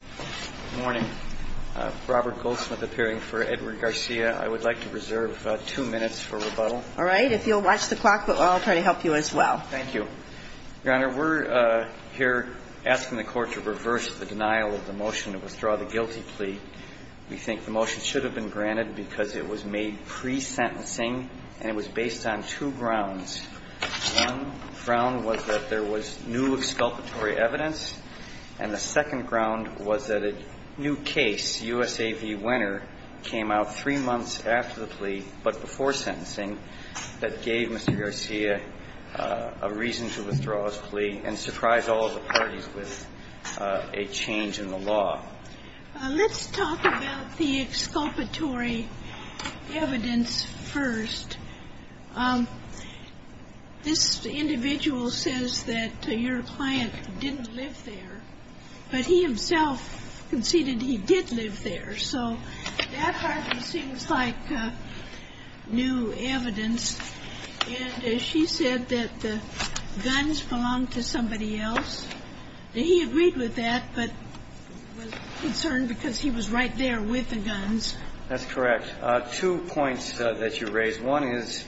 Good morning. Robert Goldsmith appearing for Edward Garcia. I would like to reserve two minutes for rebuttal. All right. If you'll watch the clock, I'll try to help you as well. Thank you. Your Honor, we're here asking the Court to reverse the denial of the motion to withdraw the guilty plea. We think the motion should have been granted because it was made pre-sentencing and it was based on two grounds. One ground was that there was new exculpatory evidence, and the second ground was that a new case, U.S.A. v. Winner, came out three months after the plea but before sentencing that gave Mr. Garcia a reason to withdraw his plea and surprised all of the parties with a change in the law. Let's talk about the exculpatory evidence first. This individual says that your client didn't live there, but he himself conceded he did live there, so that hardly seems like new evidence. And she said that the guns belonged to somebody else. He agreed with that, but was concerned because he was right there with the guns. That's correct. Two points that you raised. One is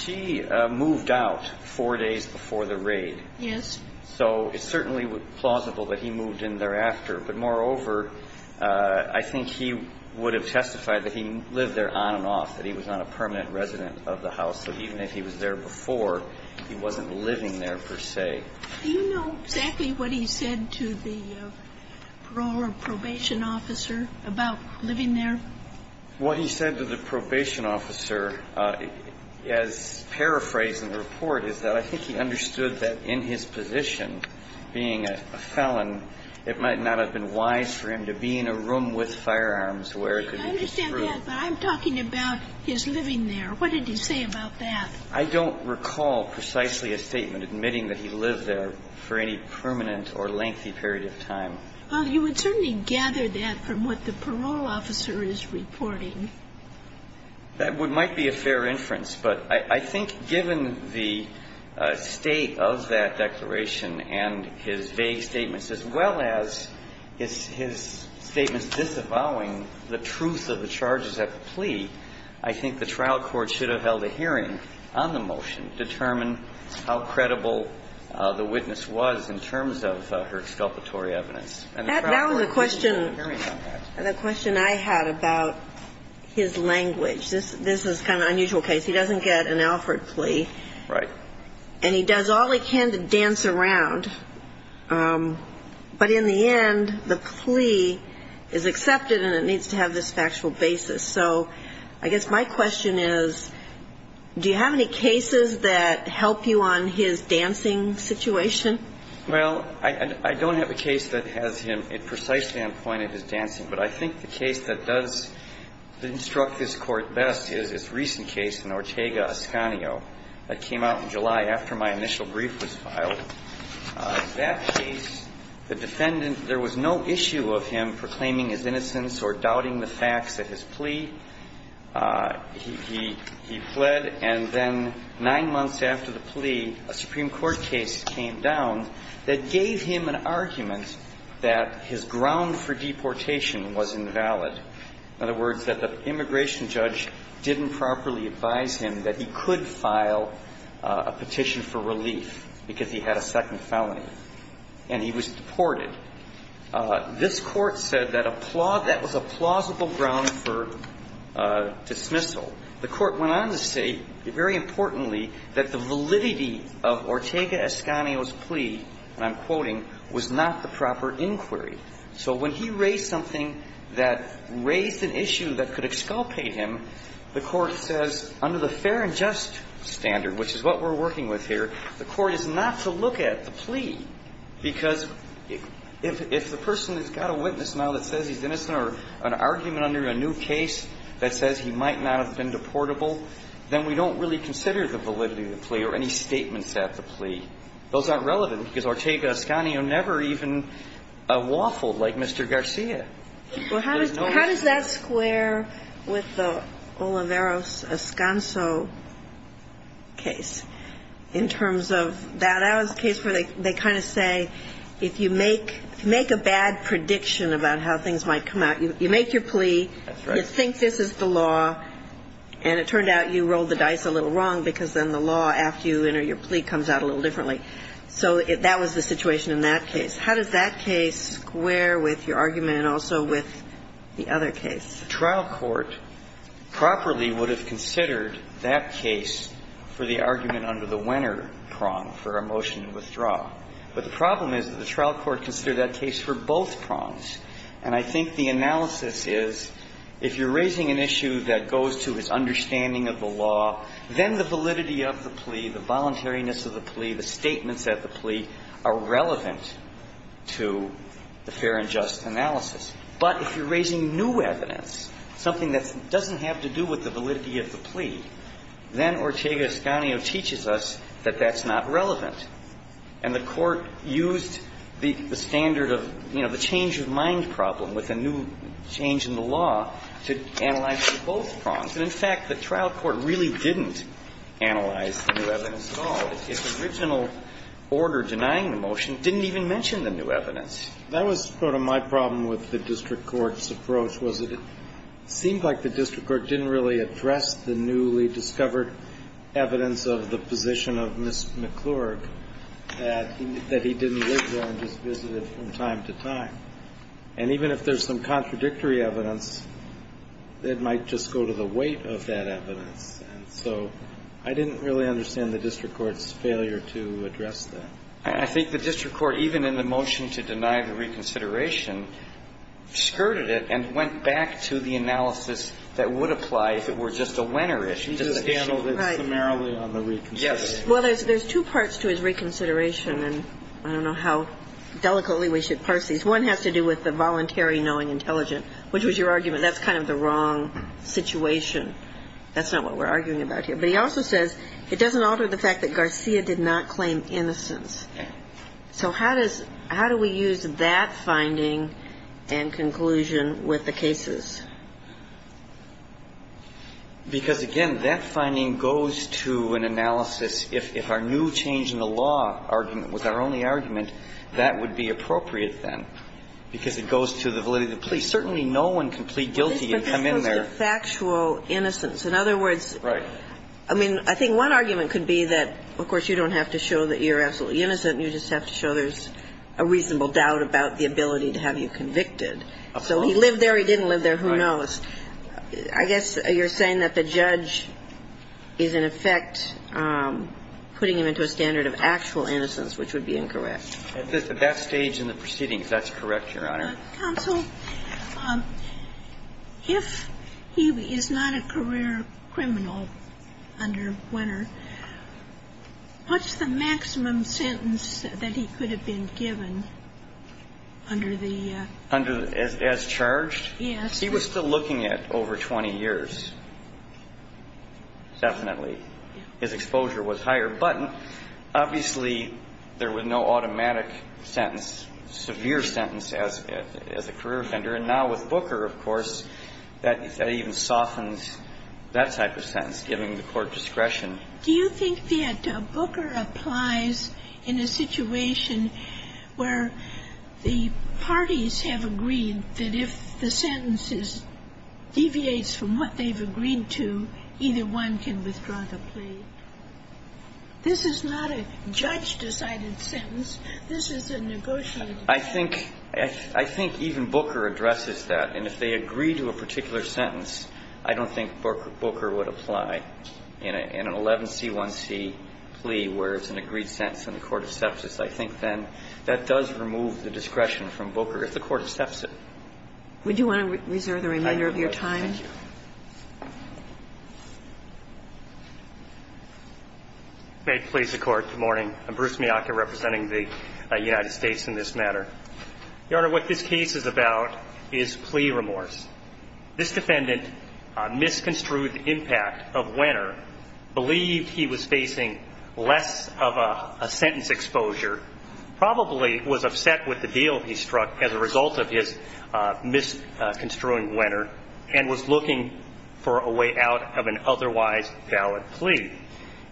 she moved out four days before the raid. Yes. So it's certainly plausible that he moved in thereafter. But, moreover, I think he would have testified that he lived there on and off, that he was not a permanent resident of the house. So even if he was there before, he wasn't living there per se. Do you know exactly what he said to the parole or probation officer about living there? What he said to the probation officer, as paraphrased in the report, is that I think he understood that in his position, being a felon, it might not have been wise for him to be in a room with firearms where it could be extruded. I understand that, but I'm talking about his living there. What did he say about that? I don't recall precisely a statement admitting that he lived there for any permanent or lengthy period of time. Well, you would certainly gather that from what the parole officer is reporting. That might be a fair inference. But I think given the state of that declaration and his vague statements, as well as his statements disavowing the truth of the charges at the plea, I think the trial court should have held a hearing on the motion to determine how credible the witness was in terms of her exculpatory evidence. And the trial court should have held a hearing on that. The question I had about his language, this is kind of an unusual case. He doesn't get an Alfred plea. Right. And he does all he can to dance around. But in the end, the plea is accepted and it needs to have this factual basis. So I guess my question is, do you have any cases that help you on his dancing situation? Well, I don't have a case that has him precisely on point in his dancing. But I think the case that does instruct this court best is this recent case in Ortega-Escanio that came out in July after my initial brief was filed. That case, the defendant, there was no issue of him proclaiming his innocence or doubting the facts at his plea. He fled. And then nine months after the plea, a Supreme Court case came down that gave him an argument that his ground for deportation was invalid. In other words, that the immigration judge didn't properly advise him that he could file a petition for relief because he had a second felony and he was deported. This Court said that that was a plausible ground for dismissal. The Court went on to say, very importantly, that the validity of Ortega-Escanio's plea, and I'm quoting, was not the proper inquiry. So when he raised something that raised an issue that could exculpate him, the Court says, under the fair and just standard, which is what we're working with here, the Court is not to look at the plea. Because if the person has got a witness now that says he's innocent or an argument under a new case that says he might not have been deportable, then we don't really consider the validity of the plea or any statements at the plea. Those aren't relevant, because Ortega-Escanio never even waffled like Mr. Garcia. There's no reason. Well, how does that square with the Olivares-Escanso case in terms of that? That was the case where they kind of say, if you make a bad prediction about how things might come out, you make your plea. That's right. You think this is the law, and it turned out you rolled the dice a little wrong because then the law after you enter your plea comes out a little differently. So that was the situation in that case. How does that case square with your argument and also with the other case? The trial court properly would have considered that case for the argument under the Wenner prong for a motion to withdraw. But the problem is that the trial court considered that case for both prongs. And I think the analysis is, if you're raising an issue that goes to his understanding of the law, then the validity of the plea, the voluntariness of the plea, the statements at the plea are relevant to the fair and just analysis. But if you're raising new evidence, something that doesn't have to do with the validity of the plea, then Ortega-Escanio teaches us that that's not relevant. And the Court used the standard of, you know, the change of mind problem with a new change in the law to analyze for both prongs. And, in fact, the trial court really didn't analyze the new evidence at all. Its original order denying the motion didn't even mention the new evidence. That was sort of my problem with the district court's approach was that it seemed like the district court didn't really address the newly discovered evidence of the position of Ms. McClurg that he didn't live there and just visited from time to time. And even if there's some contradictory evidence, it might just go to the weight of that evidence. And so I didn't really understand the district court's failure to address that. And I think the district court, even in the motion to deny the reconsideration, skirted it and went back to the analysis that would apply if it were just a winner issue, just an issue. He just handled it summarily on the reconsideration. Yes. Well, there's two parts to his reconsideration, and I don't know how delicately we should parse these. One has to do with the voluntary knowing intelligent, which was your argument. That's kind of the wrong situation. That's not what we're arguing about here. But he also says it doesn't alter the fact that Garcia did not claim innocence. So how does – how do we use that finding and conclusion with the cases? Because, again, that finding goes to an analysis. If our new change in the law argument was our only argument, that would be appropriate then, because it goes to the validity of the plea. Certainly no one can plead guilty and come in there. But this goes to factual innocence. In other words, I mean, I think one argument could be that, of course, you don't have to show that you're absolutely innocent. You just have to show there's a reasonable doubt about the ability to have you convicted. Of course. So he lived there, he didn't live there, who knows. Right. I guess you're saying that the judge is, in effect, putting him into a standard of actual innocence, which would be incorrect. At that stage in the proceedings, that's correct, Your Honor. Counsel, if he is not a career criminal under Wenner, what's the maximum sentence that he could have been given under the – Under – as charged? Yes. He was still looking at over 20 years. Definitely. His exposure was higher. But obviously there was no automatic sentence, severe sentence, as a career offender. And now with Booker, of course, that even softens that type of sentence, giving the court discretion. Do you think that Booker applies in a situation where the parties have agreed that if the sentence is – deviates from what they've agreed to, either one can withdraw the plea? This is not a judge-decided sentence. This is a negotiated sentence. I think – I think even Booker addresses that. And if they agree to a particular sentence, I don't think Booker would apply. In an 11c1c plea where it's an agreed sentence in the court of sepsis, I think then that does remove the discretion from Booker if the court of sepsis. Would you want to reserve the remainder of your time? I do. Thank you. May it please the Court. Good morning. I'm Bruce Miyake representing the United States in this matter. Your Honor, what this case is about is plea remorse. This defendant misconstrued the impact of Wenner, believed he was facing less of a sentence exposure, probably was upset with the deal he struck as a result of his misconstruing Wenner, and was looking for a way out of an otherwise valid plea.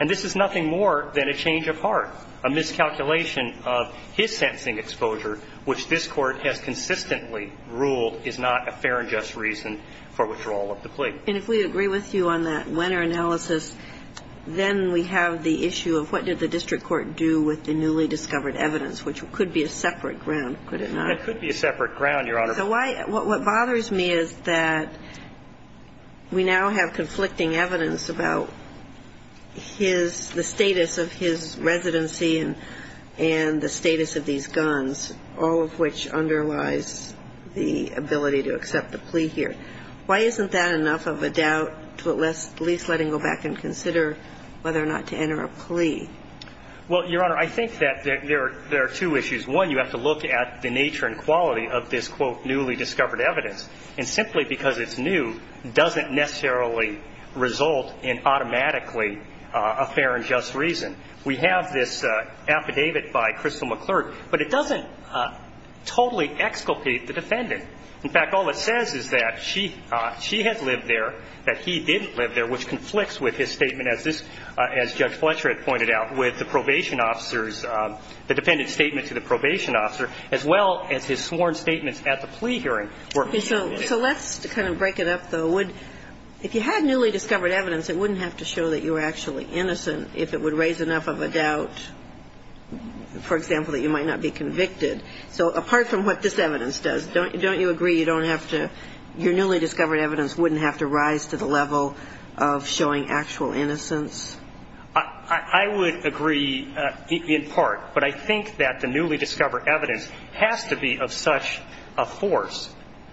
And this is nothing more than a change of heart. A miscalculation of his sentencing exposure, which this Court has consistently ruled is not a fair and just reason for withdrawal of the plea. And if we agree with you on that Wenner analysis, then we have the issue of what did the district court do with the newly discovered evidence, which could be a separate ground, could it not? It could be a separate ground, Your Honor. So why – what bothers me is that we now have conflicting evidence about his – the status of his residency and the status of these guns, all of which underlies the ability to accept the plea here. Why isn't that enough of a doubt to at least let him go back and consider whether or not to enter a plea? Well, Your Honor, I think that there are two issues. One, you have to look at the nature and quality of this, quote, newly discovered evidence. And simply because it's new doesn't necessarily result in automatically a fair and just reason. We have this affidavit by Crystal McClurg, but it doesn't totally exculpate the defendant. In fact, all it says is that she – she has lived there, that he didn't live there, which conflicts with his statement, as this – as Judge Fletcher had pointed out, with the probation officer's – the defendant's statement to the probation officer, as well as his sworn statements at the plea hearing. Okay. So let's kind of break it up, though. If you had newly discovered evidence, it wouldn't have to show that you were actually innocent if it would raise enough of a doubt, for example, that you might not be convicted. So apart from what this evidence does, don't you agree you don't have to – your innocence? I would agree in part. But I think that the newly discovered evidence has to be of such a force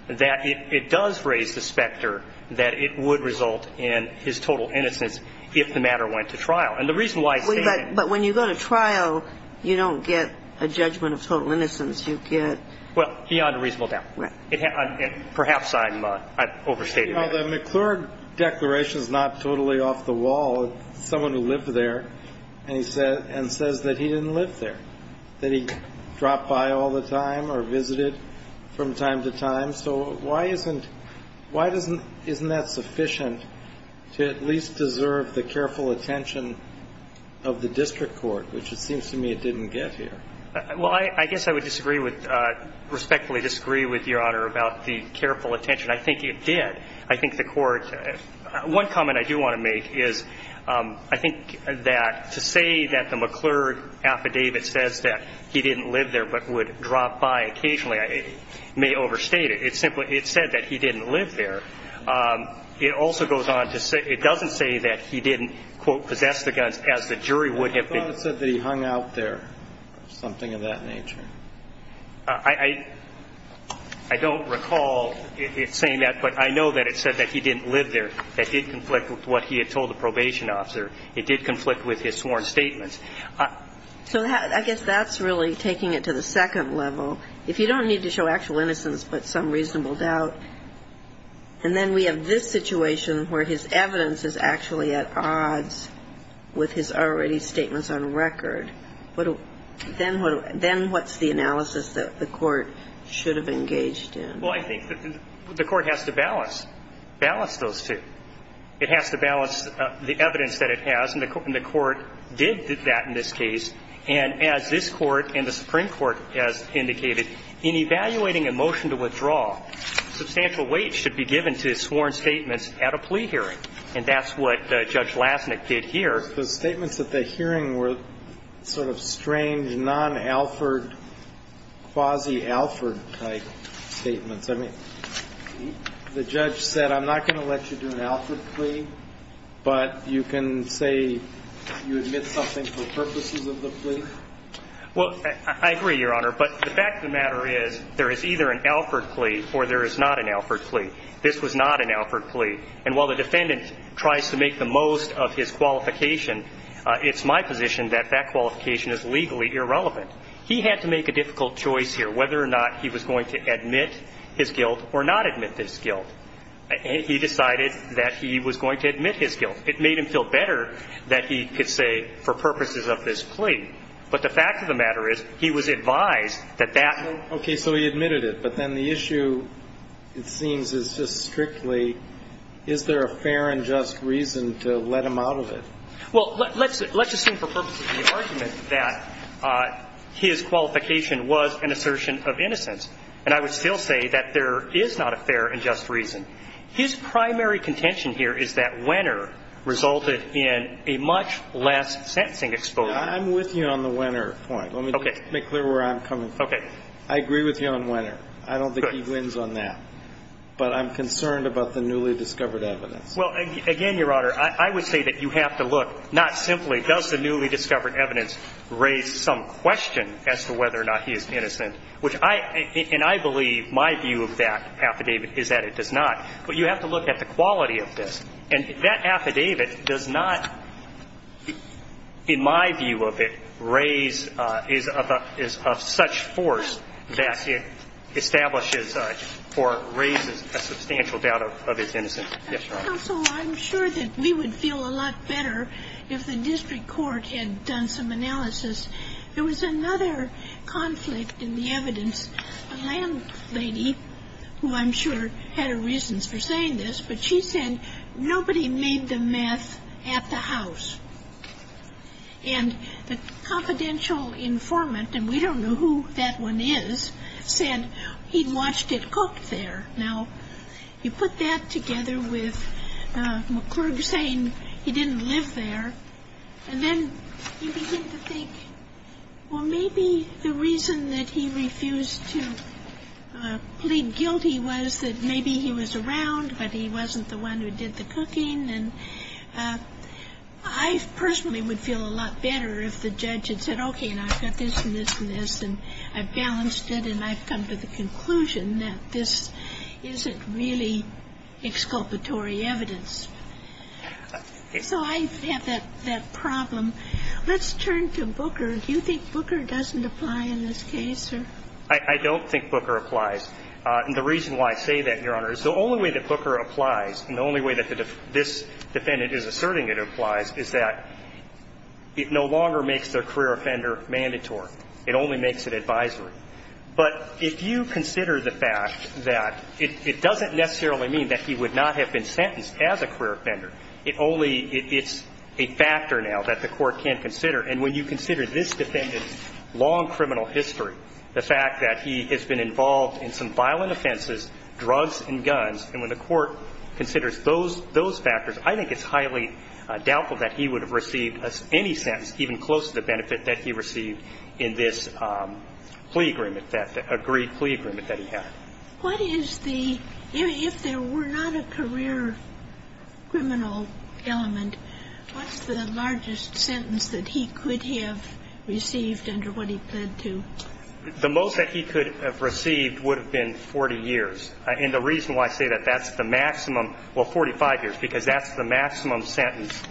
that it does raise the specter that it would result in his total innocence if the matter went to trial. And the reason why I say that – But when you go to trial, you don't get a judgment of total innocence. You get – Well, beyond a reasonable doubt. Right. Perhaps I'm – I overstated that. Well, the McClurg declaration is not totally off the wall. It's someone who lived there and says that he didn't live there, that he dropped by all the time or visited from time to time. So why isn't – why isn't that sufficient to at least deserve the careful attention of the district court, which it seems to me it didn't get here? Well, I guess I would disagree with – respectfully disagree with Your Honor about the careful attention. I think it did. I think the court – one comment I do want to make is I think that to say that the McClurg affidavit says that he didn't live there but would drop by occasionally may overstate it. It simply – it said that he didn't live there. It also goes on to say – it doesn't say that he didn't, quote, possess the guns, as the jury would have been – Well, it said that he hung out there or something of that nature. I don't recall it saying that, but I know that it said that he didn't live there. That did conflict with what he had told the probation officer. It did conflict with his sworn statements. So I guess that's really taking it to the second level. If you don't need to show actual innocence but some reasonable doubt, and then we have this situation where his evidence is actually at odds with his already statements on record, then what's the analysis that the court should have engaged in? Well, I think that the court has to balance those two. It has to balance the evidence that it has, and the court did that in this case. And as this court and the Supreme Court has indicated, in evaluating a motion to withdraw, substantial weight should be given to sworn statements at a plea hearing. And that's what Judge Lasnik did here. Your Honor, the statements at the hearing were sort of strange, non-Alford, quasi-Alford-type statements. I mean, the judge said, I'm not going to let you do an Alford plea, but you can say you admit something for purposes of the plea? Well, I agree, Your Honor, but the fact of the matter is there is either an Alford plea or there is not an Alford plea. This was not an Alford plea. And while the defendant tries to make the most of his qualification, it's my position that that qualification is legally irrelevant. He had to make a difficult choice here, whether or not he was going to admit his guilt or not admit his guilt. And he decided that he was going to admit his guilt. It made him feel better that he could say, for purposes of this plea. But the fact of the matter is he was advised that that would be the case. Is there a fair and just reason to let him out of it? Well, let's assume for purposes of the argument that his qualification was an assertion of innocence. And I would still say that there is not a fair and just reason. His primary contention here is that Wenner resulted in a much less sentencing exposure. I'm with you on the Wenner point. Let me make clear where I'm coming from. I agree with you on Wenner. I don't think he wins on that. But I'm concerned about the newly discovered evidence. Well, again, Your Honor, I would say that you have to look, not simply does the newly discovered evidence raise some question as to whether or not he is innocent, which I – and I believe my view of that affidavit is that it does not. But you have to look at the quality of this. And that affidavit does not, in my view of it, raise – is of such force that it raises a substantial doubt of his innocence. Yes, Your Honor. Counsel, I'm sure that we would feel a lot better if the district court had done some analysis. There was another conflict in the evidence. A landlady, who I'm sure had her reasons for saying this, but she said nobody made the meth at the house. And the confidential informant, and we don't know who that one is, said he watched it cook there. Now, you put that together with McClurg saying he didn't live there, and then you begin to think, well, maybe the reason that he refused to plead guilty was that maybe he was around, but he wasn't the one who did the cooking. And I personally would feel a lot better if the judge had said, okay, and I've got this and this and this, and I've balanced it, and I've come to the conclusion that this isn't really exculpatory evidence. So I have that problem. Let's turn to Booker. Do you think Booker doesn't apply in this case, sir? I don't think Booker applies. And the reason why I say that, Your Honor, is the only way that Booker applies and the only way that this defendant is asserting it applies is that it no longer makes the career offender mandatory. It only makes it advisory. But if you consider the fact that it doesn't necessarily mean that he would not have been sentenced as a career offender. It's a factor now that the court can't consider. And when you consider this defendant's long criminal history, the fact that he has been involved in some violent offenses, drugs and guns, and when the court considers those factors, I think it's highly doubtful that he would have received any sentence even close to the benefit that he received in this plea agreement, that agreed plea agreement that he had. What is the – if there were not a career criminal element, what's the largest sentence that he could have received under what he pled to? The most that he could have received would have been 40 years. And the reason why I say that, that's the maximum – well, 45 years, because that's the maximum sentence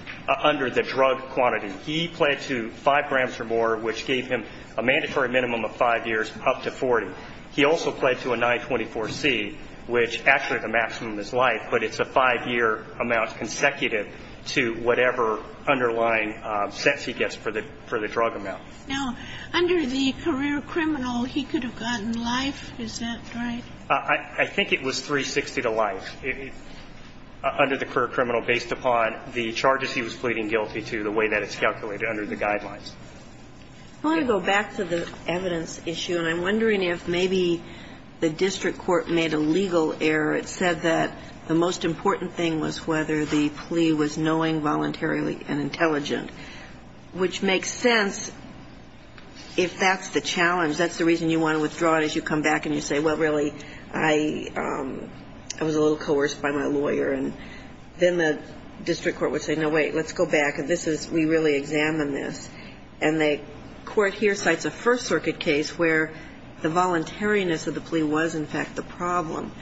under the drug quantity. He pled to 5 grams or more, which gave him a mandatory minimum of 5 years up to 40. He also pled to a 924C, which actually the maximum is life, but it's a 5-year amount consecutive to whatever underlying sentence he gets for the drug amount. Now, under the career criminal, he could have gotten life. Is that right? I think it was 360 to life. Under the career criminal, based upon the charges he was pleading guilty to, the guidelines. I want to go back to the evidence issue, and I'm wondering if maybe the district court made a legal error. It said that the most important thing was whether the plea was knowing voluntarily and intelligent, which makes sense if that's the challenge. That's the reason you want to withdraw it, is you come back and you say, well, really, I was a little coerced by my lawyer. And then the district court would say, no, wait, let's go back. We really examined this. And the court here cites a First Circuit case where the voluntariness of the plea was, in fact, the problem.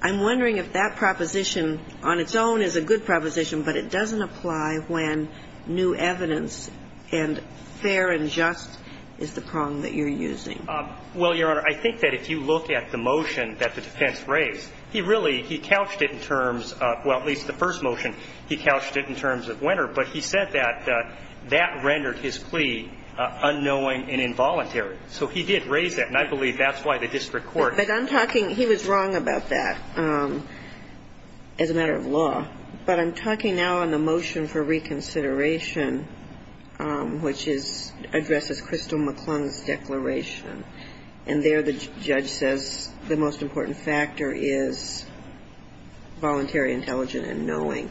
I'm wondering if that proposition on its own is a good proposition, but it doesn't apply when new evidence and fair and just is the prong that you're using. Well, Your Honor, I think that if you look at the motion that the defense raised, he really, he couched it in terms of, well, at least the first motion, he couched it in terms of winner, but he said that that rendered his plea unknowing and involuntary. So he did raise that, and I believe that's why the district court ---- But I'm talking, he was wrong about that as a matter of law. But I'm talking now on the motion for reconsideration, which is addressed as Crystal McClung's declaration. And there the judge says the most important factor is voluntary, intelligent and knowing.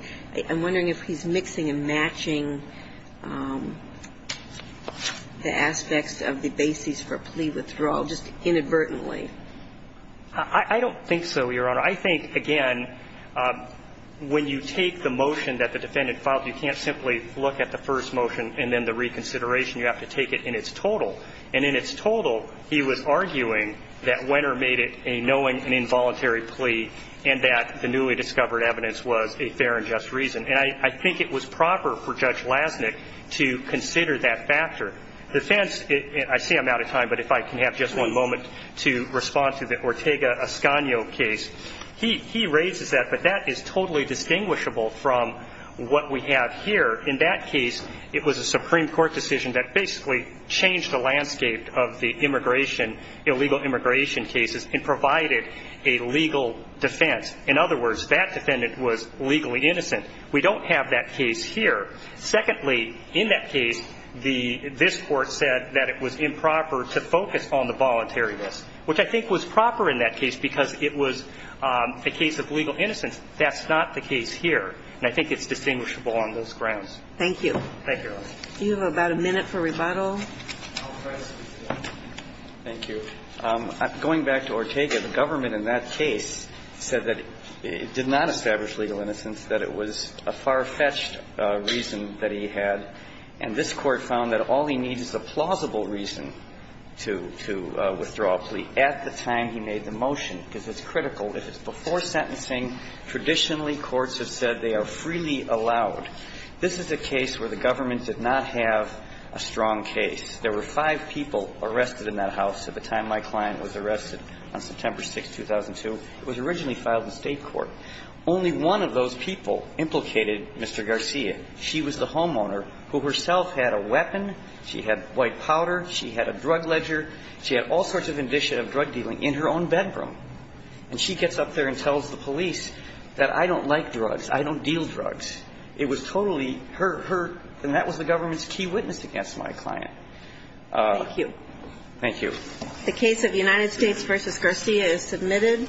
I'm wondering if he's mixing and matching the aspects of the basis for plea withdrawal just inadvertently. I don't think so, Your Honor. I think, again, when you take the motion that the defendant filed, you can't simply look at the first motion and then the reconsideration. You have to take it in its total. And in its total, he was arguing that winner made it a knowing and involuntary plea and that the newly discovered evidence was a fair and just reason. And I think it was proper for Judge Lasnik to consider that factor. The defense, I see I'm out of time, but if I can have just one moment to respond to the Ortega-Escano case. He raises that, but that is totally distinguishable from what we have here. In that case, it was a Supreme Court decision that basically changed the landscape of the immigration, illegal immigration cases and provided a legal defense. In other words, that defendant was legally innocent. We don't have that case here. Secondly, in that case, this Court said that it was improper to focus on the voluntariness, which I think was proper in that case because it was a case of legal innocence. That's not the case here. And I think it's distinguishable on those grounds. Thank you. Thank you, Your Honor. Do you have about a minute for rebuttal? Thank you. Going back to Ortega, the government in that case said that it did not establish legal innocence, that it was a far-fetched reason that he had. And this Court found that all he needs is a plausible reason to withdraw a plea at the time he made the motion, because it's critical. If it's before sentencing, traditionally courts have said they are freely allowed. This is a case where the government did not have a strong case. There were five people arrested in that house at the time my client was arrested on September 6, 2002. It was originally filed in State court. Only one of those people implicated Mr. Garcia. She was the homeowner who herself had a weapon. She had white powder. She had a drug ledger. She had all sorts of indicia of drug dealing in her own bedroom. And she gets up there and tells the police that I don't like drugs. I don't deal drugs. It was totally her – her – and that was the government's key witness against my client. Thank you. Thank you. The case of United States v. Garcia is submitted.